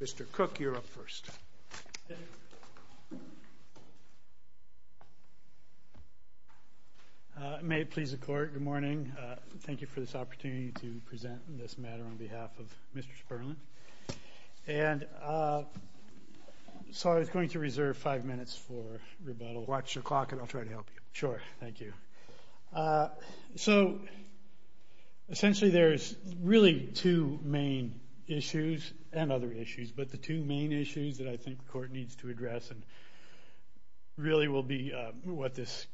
Mr. Cook, you're up first. May it please the Court, good morning. Thank you for this opportunity to present this matter on behalf of Mr. Spurlin. And so I was going to reserve five minutes for rebuttal. Watch your clock and I'll try to help you. Sure, thank you. So essentially there's really two main issues, and other issues, but the two main issues that I think the Court needs to address and really will be what this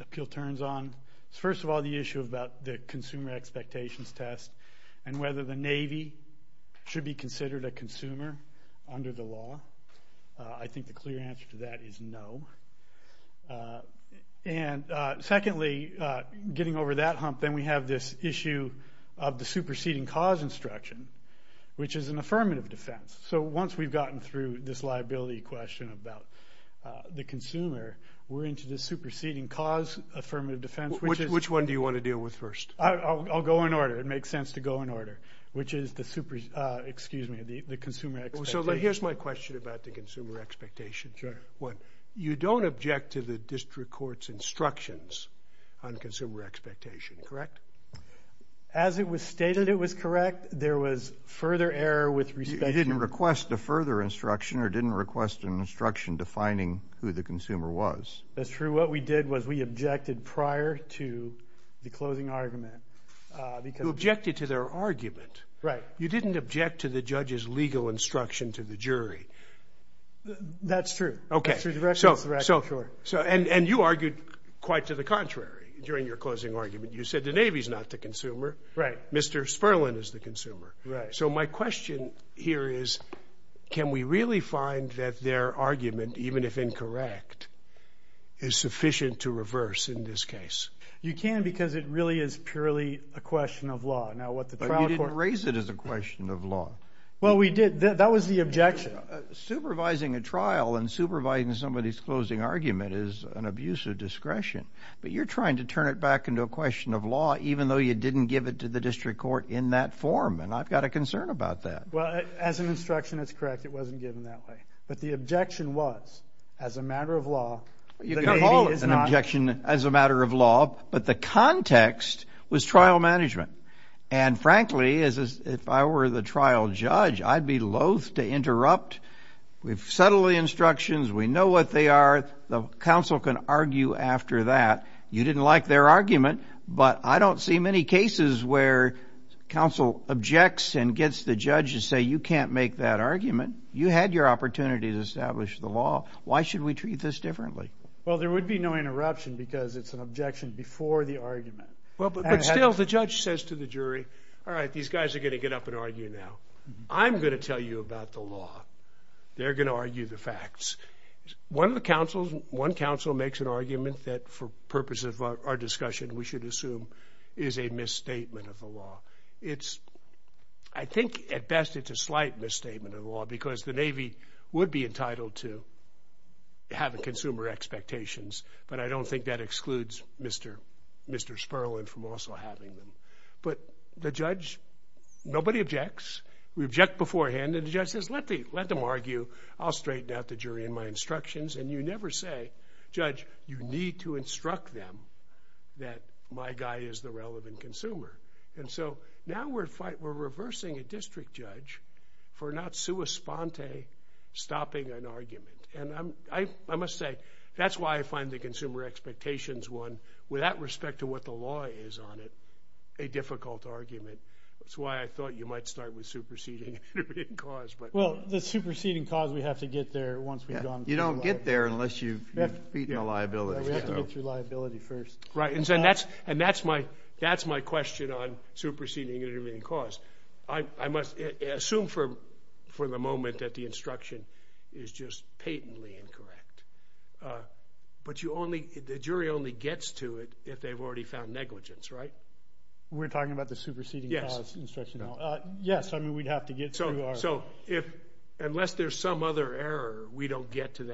appeal turns on. First of all, the issue about the consumer expectations test and whether the Navy should be considered a consumer under the law. I think the clear answer to that is no. And secondly, getting over that hump, then we have this issue of the superseding cause instruction, which is an affirmative defense. So once we've gotten through this liability question about the consumer, we're into the superseding cause affirmative defense. Which one do you want to deal with first? I'll go in order. It makes sense to go in order, which is the consumer expectations. So here's my question about the consumer expectations. Sure. You don't object to the district court's instructions on consumer expectation, correct? As it was stated it was correct. There was further error with respect to the- You didn't request a further instruction or didn't request an instruction defining who the consumer was. That's true. What we did was we objected prior to the closing argument because- You objected to their argument. Right. You didn't object to the judge's legal instruction to the jury. That's true. Okay. That's true. And you argued quite to the contrary during your closing argument. You said the Navy's not the consumer. Right. Mr. Sperling is the consumer. Right. So my question here is can we really find that their argument, even if incorrect, is sufficient to reverse in this case? You can because it really is purely a question of law. But you didn't raise it as a question of law. Well, we did. That was the objection. Supervising a trial and supervising somebody's closing argument is an abuse of discretion. But you're trying to turn it back into a question of law, even though you didn't give it to the district court in that form. And I've got a concern about that. Well, as an instruction, it's correct. It wasn't given that way. But the objection was, as a matter of law, the Navy is not- An objection as a matter of law. But the context was trial management. And, frankly, if I were the trial judge, I'd be loath to interrupt. We've settled the instructions. We know what they are. The counsel can argue after that. You didn't like their argument, but I don't see many cases where counsel objects and gets the judge to say, you can't make that argument. You had your opportunity to establish the law. Why should we treat this differently? Well, there would be no interruption because it's an objection before the argument. But still, the judge says to the jury, all right, these guys are going to get up and argue now. I'm going to tell you about the law. They're going to argue the facts. One of the counsels, one counsel, makes an argument that, for purposes of our discussion, we should assume is a misstatement of the law. I think, at best, it's a slight misstatement of the law because the Navy would be entitled to have consumer expectations, but I don't think that excludes Mr. Sperling from also having them. But the judge, nobody objects. We object beforehand, and the judge says, let them argue. I'll straighten out the jury in my instructions. And you never say, judge, you need to instruct them that my guy is the relevant consumer. And so now we're reversing a district judge for not sua sponte, stopping an argument. And I must say, that's why I find the consumer expectations one, with that respect to what the law is on it, a difficult argument. That's why I thought you might start with superseding and intervening cause. Well, the superseding cause, we have to get there once we've gone through the law. You don't get there unless you've beaten a liability. We have to get through liability first. Right, and that's my question on superseding and intervening cause. I must assume for the moment that the instruction is just patently incorrect. But the jury only gets to it if they've already found negligence, right? We're talking about the superseding cause instruction. Yes, I mean, we'd have to get through our... So unless there's some other error, we don't get to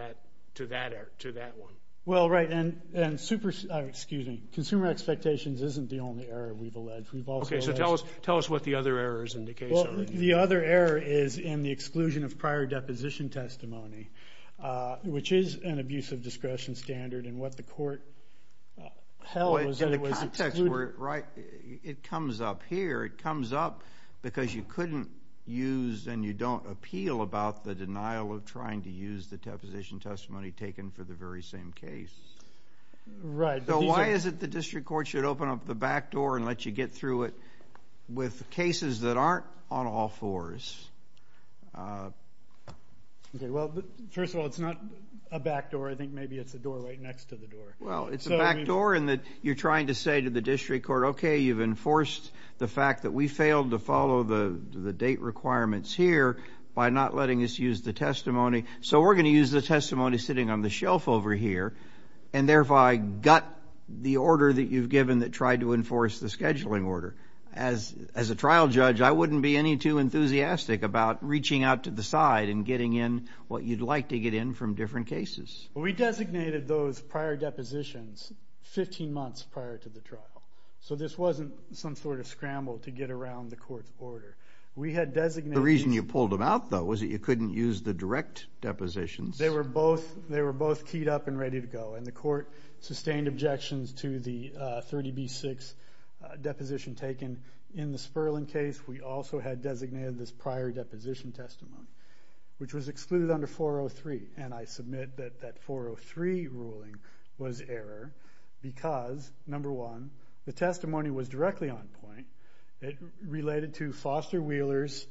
that one. Well, right, and consumer expectations isn't the only error we've alleged. Okay, so tell us what the other errors indicate. Well, the other error is in the exclusion of prior deposition testimony, which is an abuse of discretion standard. And what the court held was that it was excluded. Right, it comes up here. It comes up because you couldn't use and you don't appeal about the denial of trying to use the deposition testimony taken for the very same case. Right. So why is it the district court should open up the back door and let you get through it with cases that aren't on all fours? Okay, well, first of all, it's not a back door. I think maybe it's a door right next to the door. Well, it's a back door in that you're trying to say to the district court, okay, you've enforced the fact that we failed to follow the date requirements here by not letting us use the testimony, so we're going to use the testimony sitting on the shelf over here and therefore I gut the order that you've given that tried to enforce the scheduling order. As a trial judge, I wouldn't be any too enthusiastic about reaching out to the side and getting in what you'd like to get in from different cases. We designated those prior depositions 15 months prior to the trial, so this wasn't some sort of scramble to get around the court's order. The reason you pulled them out, though, was that you couldn't use the direct depositions. They were both keyed up and ready to go, and the court sustained objections to the 30B6 deposition taken. In the Sperling case, we also had designated this prior deposition testimony, which was excluded under 403, and I submit that that 403 ruling was error because, number one, the testimony was directly on point. It related to Foster Wheeler's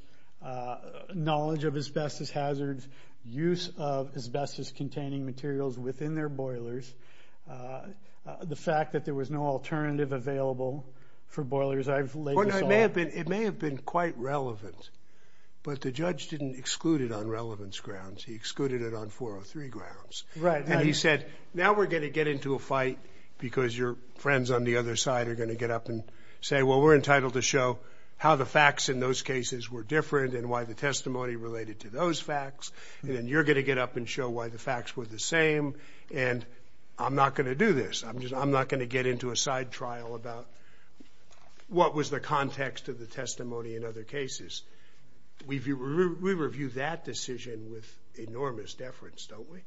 knowledge of asbestos hazards, his use of asbestos-containing materials within their boilers, the fact that there was no alternative available for boilers. It may have been quite relevant, but the judge didn't exclude it on relevance grounds. He excluded it on 403 grounds, and he said, now we're going to get into a fight because your friends on the other side are going to get up and say, well, we're entitled to show how the facts in those cases were different and why the testimony related to those facts, and then you're going to get up and show why the facts were the same, and I'm not going to do this. I'm not going to get into a side trial about what was the context of the testimony in other cases. We review that decision with enormous deference, don't we?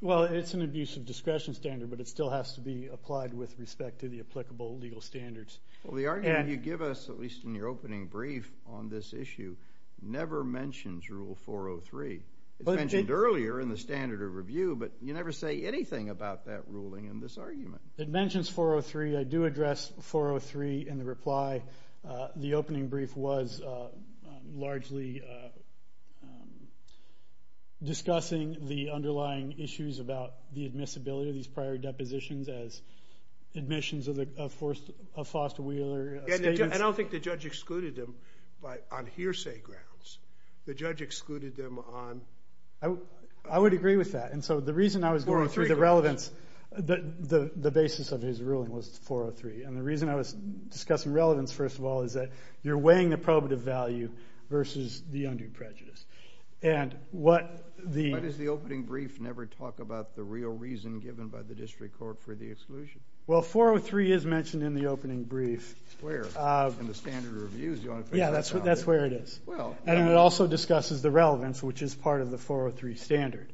Well, it's an abuse of discretion standard, but it still has to be applied with respect to the applicable legal standards. Well, the argument you give us, at least in your opening brief on this issue, never mentions Rule 403. It's mentioned earlier in the standard of review, but you never say anything about that ruling in this argument. It mentions 403. I do address 403 in the reply. The opening brief was largely discussing the underlying issues about the admissibility of these prior depositions as admissions of Foster Wheeler statements. And I don't think the judge excluded them on hearsay grounds. The judge excluded them on... I would agree with that. And so the reason I was going through the relevance, the basis of his ruling was 403, and the reason I was discussing relevance, first of all, is that you're weighing the probative value versus the undue prejudice. And what the... Well, 403 is mentioned in the opening brief. Where? In the standard of reviews? Yeah, that's where it is. And it also discusses the relevance, which is part of the 403 standard.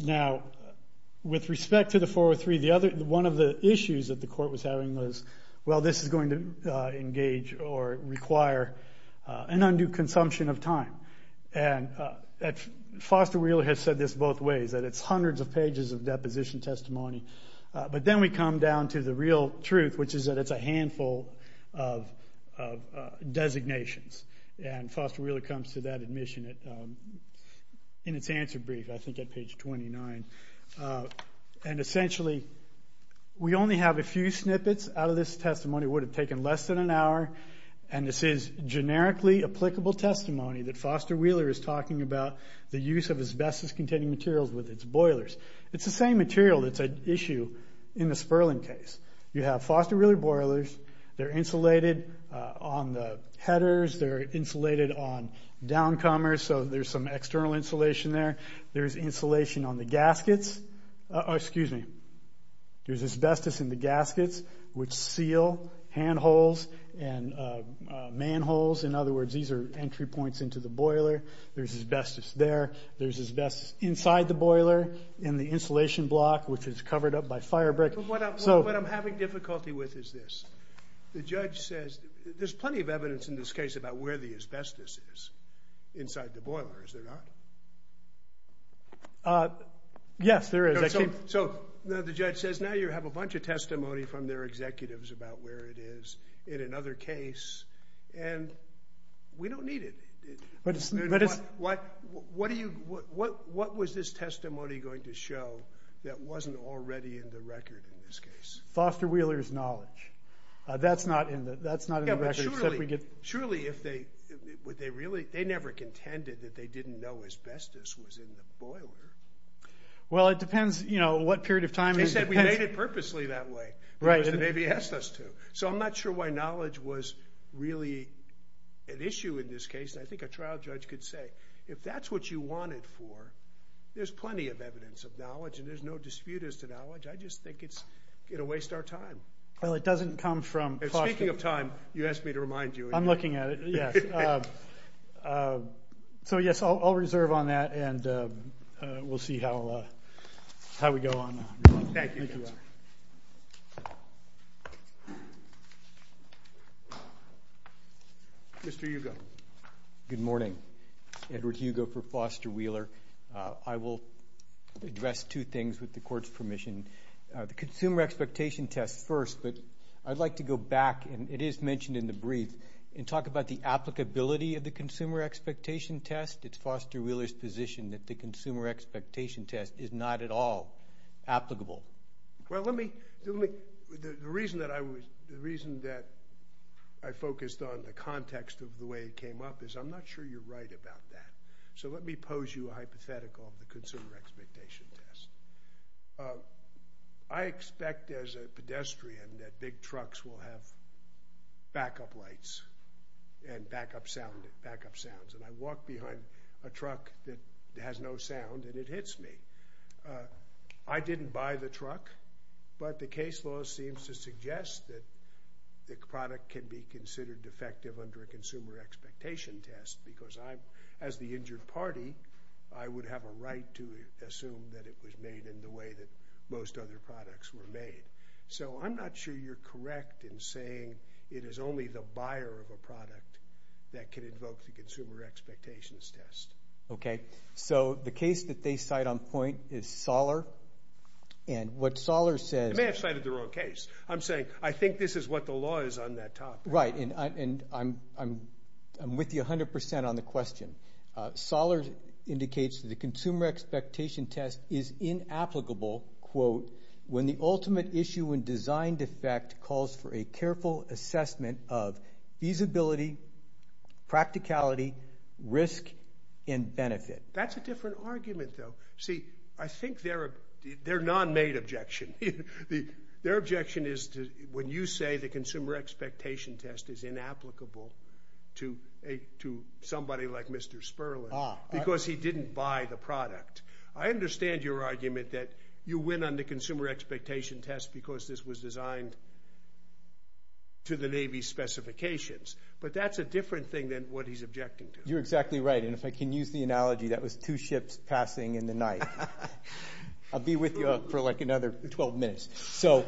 Now, with respect to the 403, one of the issues that the court was having was, well, this is going to engage or require an undue consumption of time. And Foster Wheeler has said this both ways, that it's hundreds of pages of deposition testimony. But then we come down to the real truth, which is that it's a handful of designations. And Foster Wheeler comes to that admission in its answer brief, I think at page 29. And essentially, we only have a few snippets out of this testimony. It would have taken less than an hour. And this is generically applicable testimony that Foster Wheeler is talking about the use of asbestos-containing materials with its boilers. It's the same material that's an issue in the Sperling case. You have Foster Wheeler boilers. They're insulated on the headers. They're insulated on downcomers, so there's some external insulation there. There's insulation on the gaskets. Excuse me. There's asbestos in the gaskets, In other words, these are entry points into the boiler. There's asbestos there. There's asbestos inside the boiler, in the insulation block, which is covered up by firebrick. What I'm having difficulty with is this. The judge says there's plenty of evidence in this case about where the asbestos is inside the boiler. Is there not? Yes, there is. So the judge says now you have a bunch of testimony from their executives about where it is in another case, and we don't need it. What was this testimony going to show that wasn't already in the record in this case? Foster Wheeler's knowledge. That's not in the record, except we get... Surely if they... They never contended that they didn't know asbestos was in the boiler. Well, it depends what period of time... They said we made it purposely that way. It was the way they asked us to. So I'm not sure why knowledge was really an issue in this case. I think a trial judge could say, if that's what you wanted for, there's plenty of evidence of knowledge, and there's no dispute as to knowledge. I just think it'll waste our time. Well, it doesn't come from... Speaking of time, you asked me to remind you. I'm looking at it, yes. So, yes, I'll reserve on that, and we'll see how we go on. Thank you. Mr. Hugo. Good morning. Edward Hugo for Foster Wheeler. I will address two things with the court's permission. The consumer expectation test first, but I'd like to go back, and it is mentioned in the brief, and talk about the applicability of the consumer expectation test. It's Foster Wheeler's position that the consumer expectation test is not at all applicable. Well, let me... The reason that I focused on the context of the way it came up is I'm not sure you're right about that. So let me pose you a hypothetical of the consumer expectation test. I expect, as a pedestrian, that big trucks will have backup lights and backup sounds, and I walk behind a truck that has no sound, and it hits me. I didn't buy the truck, but the case law seems to suggest that the product can be considered defective under a consumer expectation test because, as the injured party, I would have a right to assume that it was made in the way that most other products were made. So I'm not sure you're correct in saying it is only the buyer of a product that can invoke the consumer expectations test. Okay. So the case that they cite on point is Soller, and what Soller says... You may have cited the wrong case. I'm saying I think this is what the law is on that topic. Right, and I'm with you 100% on the question. Soller indicates that the consumer expectation test is inapplicable when the ultimate issue and designed effect calls for a careful assessment of feasibility, practicality, risk, and benefit. That's a different argument, though. See, I think they're a non-made objection. Their objection is when you say the consumer expectation test is inapplicable to somebody like Mr. Sperling because he didn't buy the product. I understand your argument that you win on the consumer expectation test because this was designed to the Navy's specifications, but that's a different thing than what he's objecting to. You're exactly right, and if I can use the analogy that was two ships passing in the night. I'll be with you for, like, another 12 minutes. So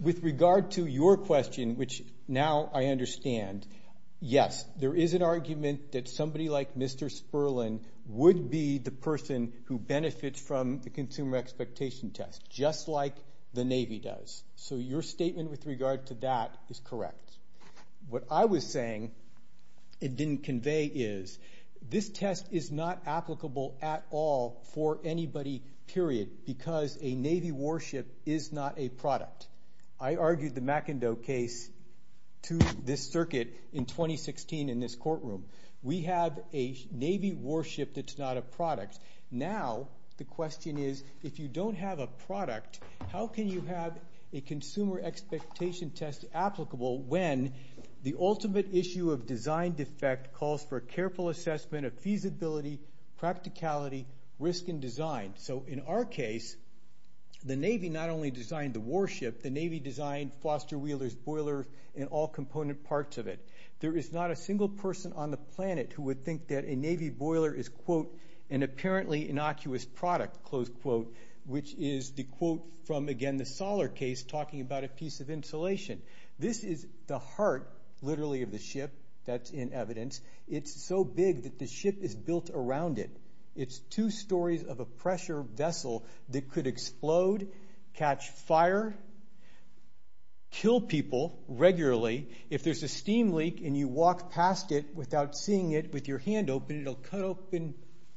with regard to your question, which now I understand, yes, there is an argument that somebody like Mr. Sperling would be the person who benefits from the consumer expectation test, just like the Navy does. So your statement with regard to that is correct. What I was saying it didn't convey is this test is not applicable at all for anybody, period, because a Navy warship is not a product. I argued the McIndoe case to this circuit in 2016 in this courtroom. We have a Navy warship that's not a product. Now the question is, if you don't have a product, how can you have a consumer expectation test applicable when the ultimate issue of design defect calls for a careful assessment of feasibility, practicality, risk, and design? So in our case, the Navy not only designed the warship, the Navy designed foster wheelers, boilers, and all component parts of it. There is not a single person on the planet who would think that a Navy boiler is, quote, an apparently innocuous product, close quote, which is the quote from, again, the Soller case talking about a piece of insulation. This is the heart, literally, of the ship. That's in evidence. It's so big that the ship is built around it. It's two stories of a pressure vessel that could explode, catch fire, kill people regularly. If there's a steam leak and you walk past it without seeing it with your hand open, it'll cut open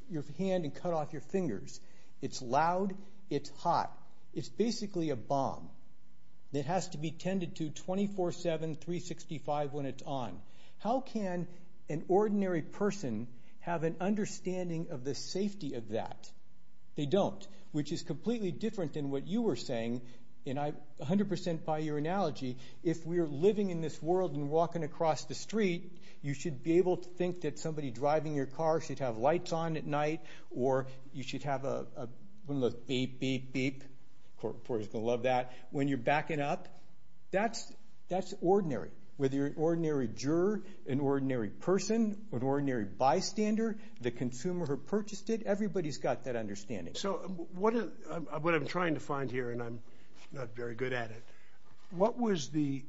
your hand and cut off your fingers. It's loud. It's hot. It's basically a bomb that has to be tended to 24-7, 365 when it's on. How can an ordinary person have an understanding of the safety of that? They don't, which is completely different than what you were saying. And I 100% buy your analogy. If we're living in this world and walking across the street, you should be able to think that somebody driving your car should have lights on at night or you should have a beep, beep, beep. The court reporter's going to love that. When you're backing up, that's ordinary. Whether you're an ordinary juror, an ordinary person, an ordinary bystander, the consumer who purchased it, everybody's got that understanding. So what I'm trying to find here, and I'm not very good at it, what was the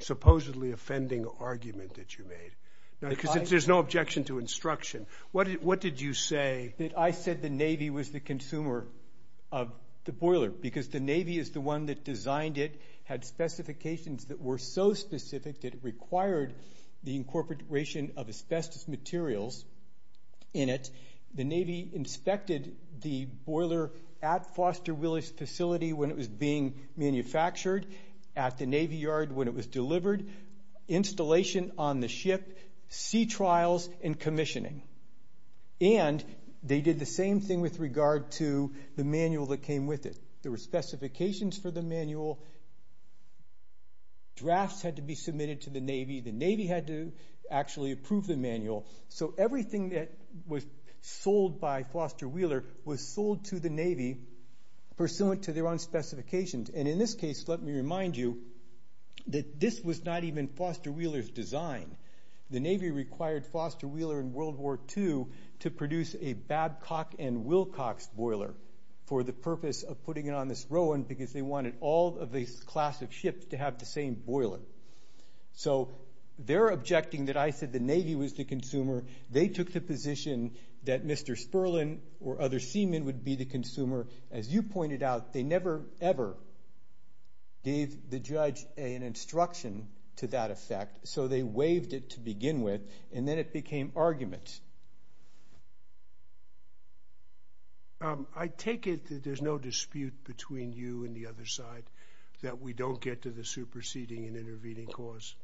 supposedly offending argument that you made? Because there's no objection to instruction. What did you say? I said the Navy was the consumer of the boiler because the Navy is the one that designed it, had specifications that were so specific that it required the incorporation of asbestos materials in it. The Navy inspected the boiler at Foster Willis Facility when it was being manufactured, at the Navy Yard when it was delivered, installation on the ship, sea trials, and commissioning. And they did the same thing with regard to the manual that came with it. There were specifications for the manual. Drafts had to be submitted to the Navy. The Navy had to actually approve the manual. So everything that was sold by Foster Wheeler was sold to the Navy pursuant to their own specifications. And in this case, let me remind you that this was not even Foster Wheeler's design. The Navy required Foster Wheeler in World War II to produce a Babcock and Wilcox boiler for the purpose of putting it on this Rowan because they wanted all of these classic ships to have the same boiler. So they're objecting that I said the Navy was the consumer. They took the position that Mr. Sperling or other seamen would be the consumer. As you pointed out, they never ever gave the judge an instruction to that effect. So they waived it to begin with, and then it became argument. I take it that there's no dispute between you and the other side that we don't get to the superseding and intervening cause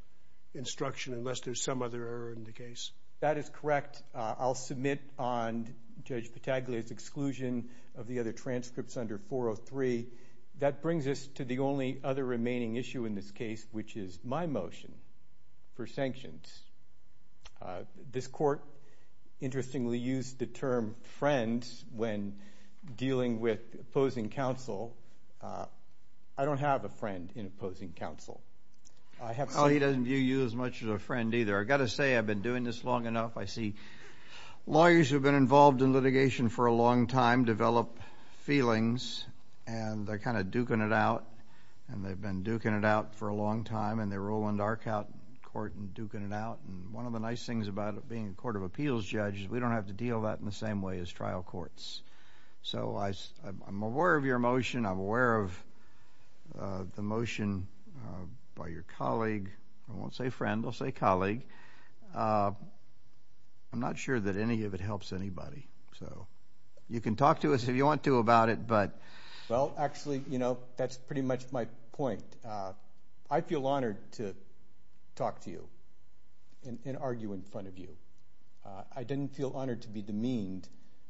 instruction unless there's some other error in the case. That is correct. With that, I'll submit on Judge Pataglia's exclusion of the other transcripts under 403. That brings us to the only other remaining issue in this case, which is my motion for sanctions. This court, interestingly, used the term friend when dealing with opposing counsel. I don't have a friend in opposing counsel. Oh, he doesn't view you as much as a friend either. I've got to say I've been doing this long enough. I see lawyers who have been involved in litigation for a long time develop feelings, and they're kind of duking it out, and they've been duking it out for a long time, and they roll into our court and duking it out. One of the nice things about being a court of appeals judge is we don't have to deal with that in the same way as trial courts. So I'm aware of your motion. I'm aware of the motion by your colleague. I won't say friend. I'll say colleague. I'm not sure that any of it helps anybody. You can talk to us if you want to about it. Well, actually, you know, that's pretty much my point. I feel honored to talk to you and argue in front of you. I didn't feel honored to be demeaned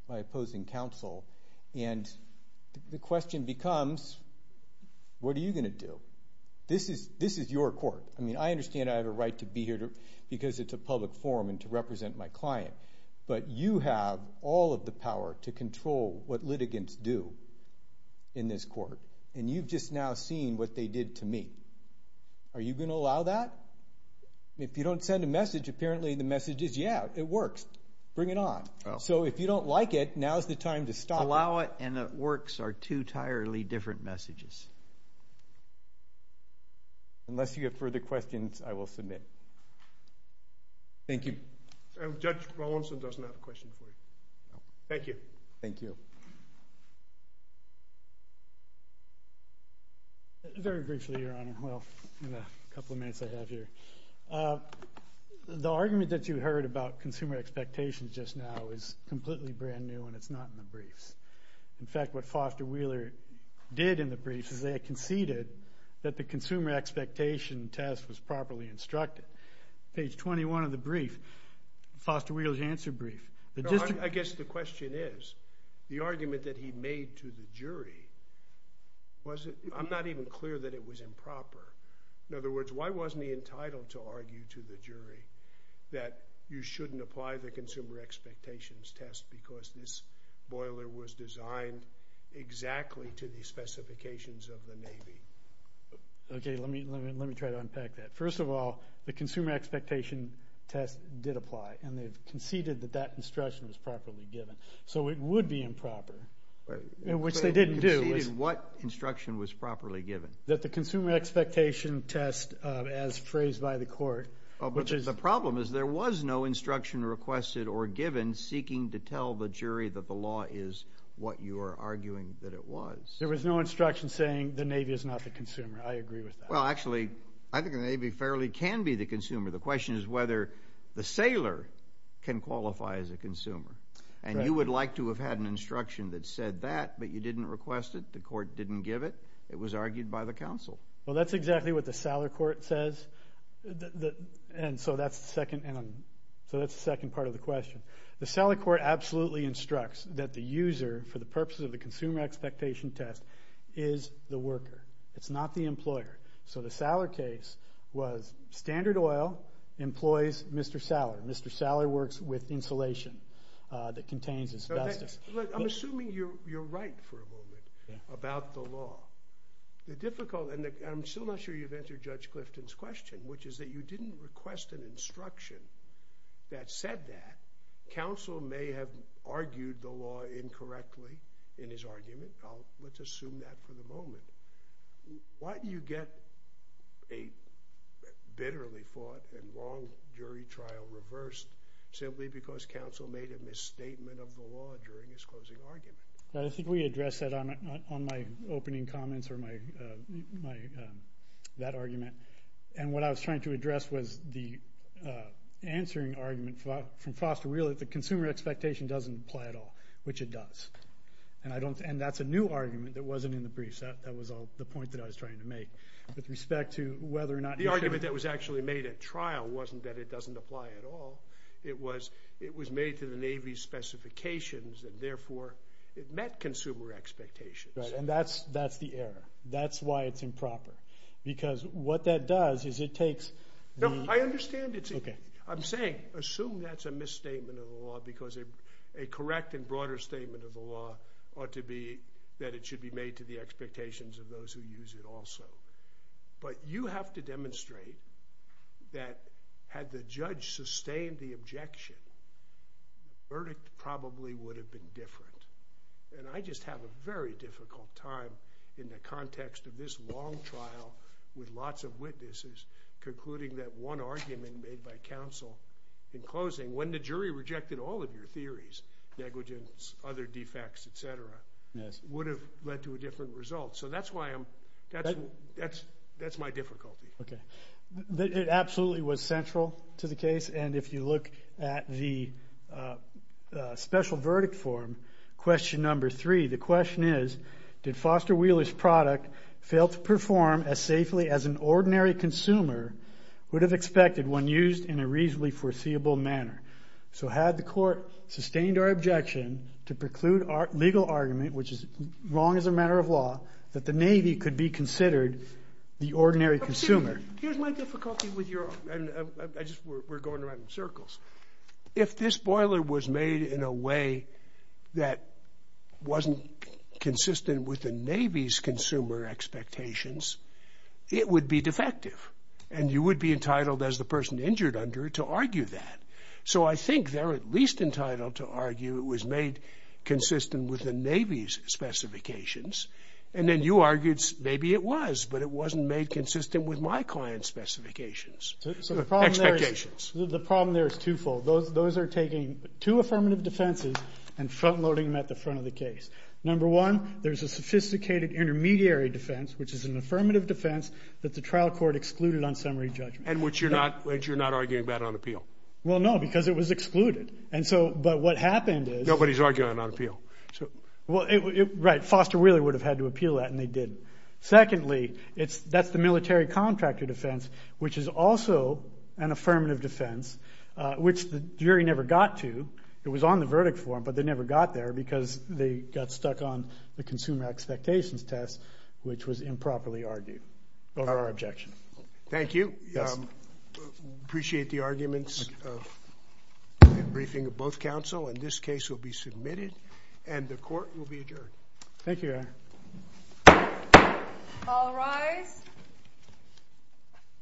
by opposing counsel, and the question becomes what are you going to do? This is your court. I mean, I understand I have a right to be here because it's a public forum and to represent my client, but you have all of the power to control what litigants do in this court, and you've just now seen what they did to me. Are you going to allow that? If you don't send a message, apparently the message is, yeah, it works. Bring it on. So if you don't like it, now is the time to stop it. Allow it and it works are two entirely different messages. Unless you have further questions, I will submit. Thank you. Judge Rawlinson doesn't have a question for you. Thank you. Thank you. Very briefly, Your Honor, well, in the couple of minutes I have here. The argument that you heard about consumer expectations just now was completely brand new and it's not in the briefs. In fact, what Foster Wheeler did in the briefs is they conceded that the consumer expectation test was properly instructed. Page 21 of the brief, Foster Wheeler's answer brief. I guess the question is the argument that he made to the jury, I'm not even clear that it was improper. In other words, why wasn't he entitled to argue to the jury that you shouldn't apply the consumer expectations test because this boiler was designed exactly to the specifications of the Navy? Okay, let me try to unpack that. First of all, the consumer expectation test did apply and they conceded that that instruction was properly given. So it would be improper, which they didn't do. Conceded what instruction was properly given? That the consumer expectation test, as phrased by the court, which is the problem is there was no instruction requested or given seeking to tell the jury that the law is what you are arguing that it was. There was no instruction saying the Navy is not the consumer. I agree with that. Well, actually, I think the Navy fairly can be the consumer. The question is whether the sailor can qualify as a consumer. And you would like to have had an instruction that said that, but you didn't request it. The court didn't give it. It was argued by the counsel. Well, that's exactly what the sailor court says. And so that's the second part of the question. The sailor court absolutely instructs that the user, for the purposes of the consumer expectation test, is the worker. It's not the employer. So the sailor case was standard oil employs Mr. Sailor. Mr. Sailor works with insulation that contains asbestos. I'm assuming you're right for a moment about the law. I'm still not sure you've answered Judge Clifton's question, which is that you didn't request an instruction that said that. Counsel may have argued the law incorrectly in his argument. Let's assume that for the moment. Why do you get a bitterly fought and long jury trial reversed simply because counsel made a misstatement of the law during his closing argument? I think we addressed that on my opening comments or that argument. And what I was trying to address was the answering argument from Foster Wheeler, that the consumer expectation doesn't apply at all, which it does. And that's a new argument that wasn't in the briefs. That was the point that I was trying to make. With respect to whether or not the argument that was actually made at trial wasn't that it doesn't apply at all. It was made to the Navy's specifications, and therefore it met consumer expectations. And that's the error. That's why it's improper, because what that does is it takes the – No, I understand it's – I'm saying assume that's a misstatement of the law because a correct and broader statement of the law ought to be that it should be made to the expectations of those who use it also. But you have to demonstrate that had the judge sustained the objection, the verdict probably would have been different. And I just have a very difficult time in the context of this long trial with lots of witnesses concluding that one argument made by counsel in closing, when the jury rejected all of your theories, negligence, other defects, et cetera, would have led to a different result. So that's why I'm – that's my difficulty. Okay. It absolutely was central to the case. And if you look at the special verdict form, question number three, the question is, did Foster Wheeler's product fail to perform as safely as an ordinary consumer would have expected when used in a reasonably foreseeable manner? So had the court sustained our objection to preclude our legal argument, which is wrong as a matter of law, that the Navy could be considered the ordinary consumer? Here's my difficulty with your – I just – we're going around in circles. If this boiler was made in a way that wasn't consistent with the Navy's consumer expectations, it would be defective. And you would be entitled, as the person injured under it, to argue that. So I think they're at least entitled to argue it was made consistent with the Navy's specifications. And then you argued maybe it was, but it wasn't made consistent with my client's specifications. So the problem there is twofold. Those are taking two affirmative defenses and front-loading them at the front of the case. Number one, there's a sophisticated intermediary defense, which is an affirmative defense that the trial court excluded on summary judgment. And which you're not arguing about on appeal. Well, no, because it was excluded. And so – but what happened is – Nobody's arguing on appeal. Right, Foster Wheeler would have had to appeal that, and they did. Secondly, that's the military contractor defense, which is also an affirmative defense, which the jury never got to. It was on the verdict form, but they never got there because they got stuck on the consumer expectations test, which was improperly argued over our objection. Thank you. Appreciate the arguments of the briefing of both counsel. And this case will be submitted, and the court will be adjourned. Thank you, Eric. All rise.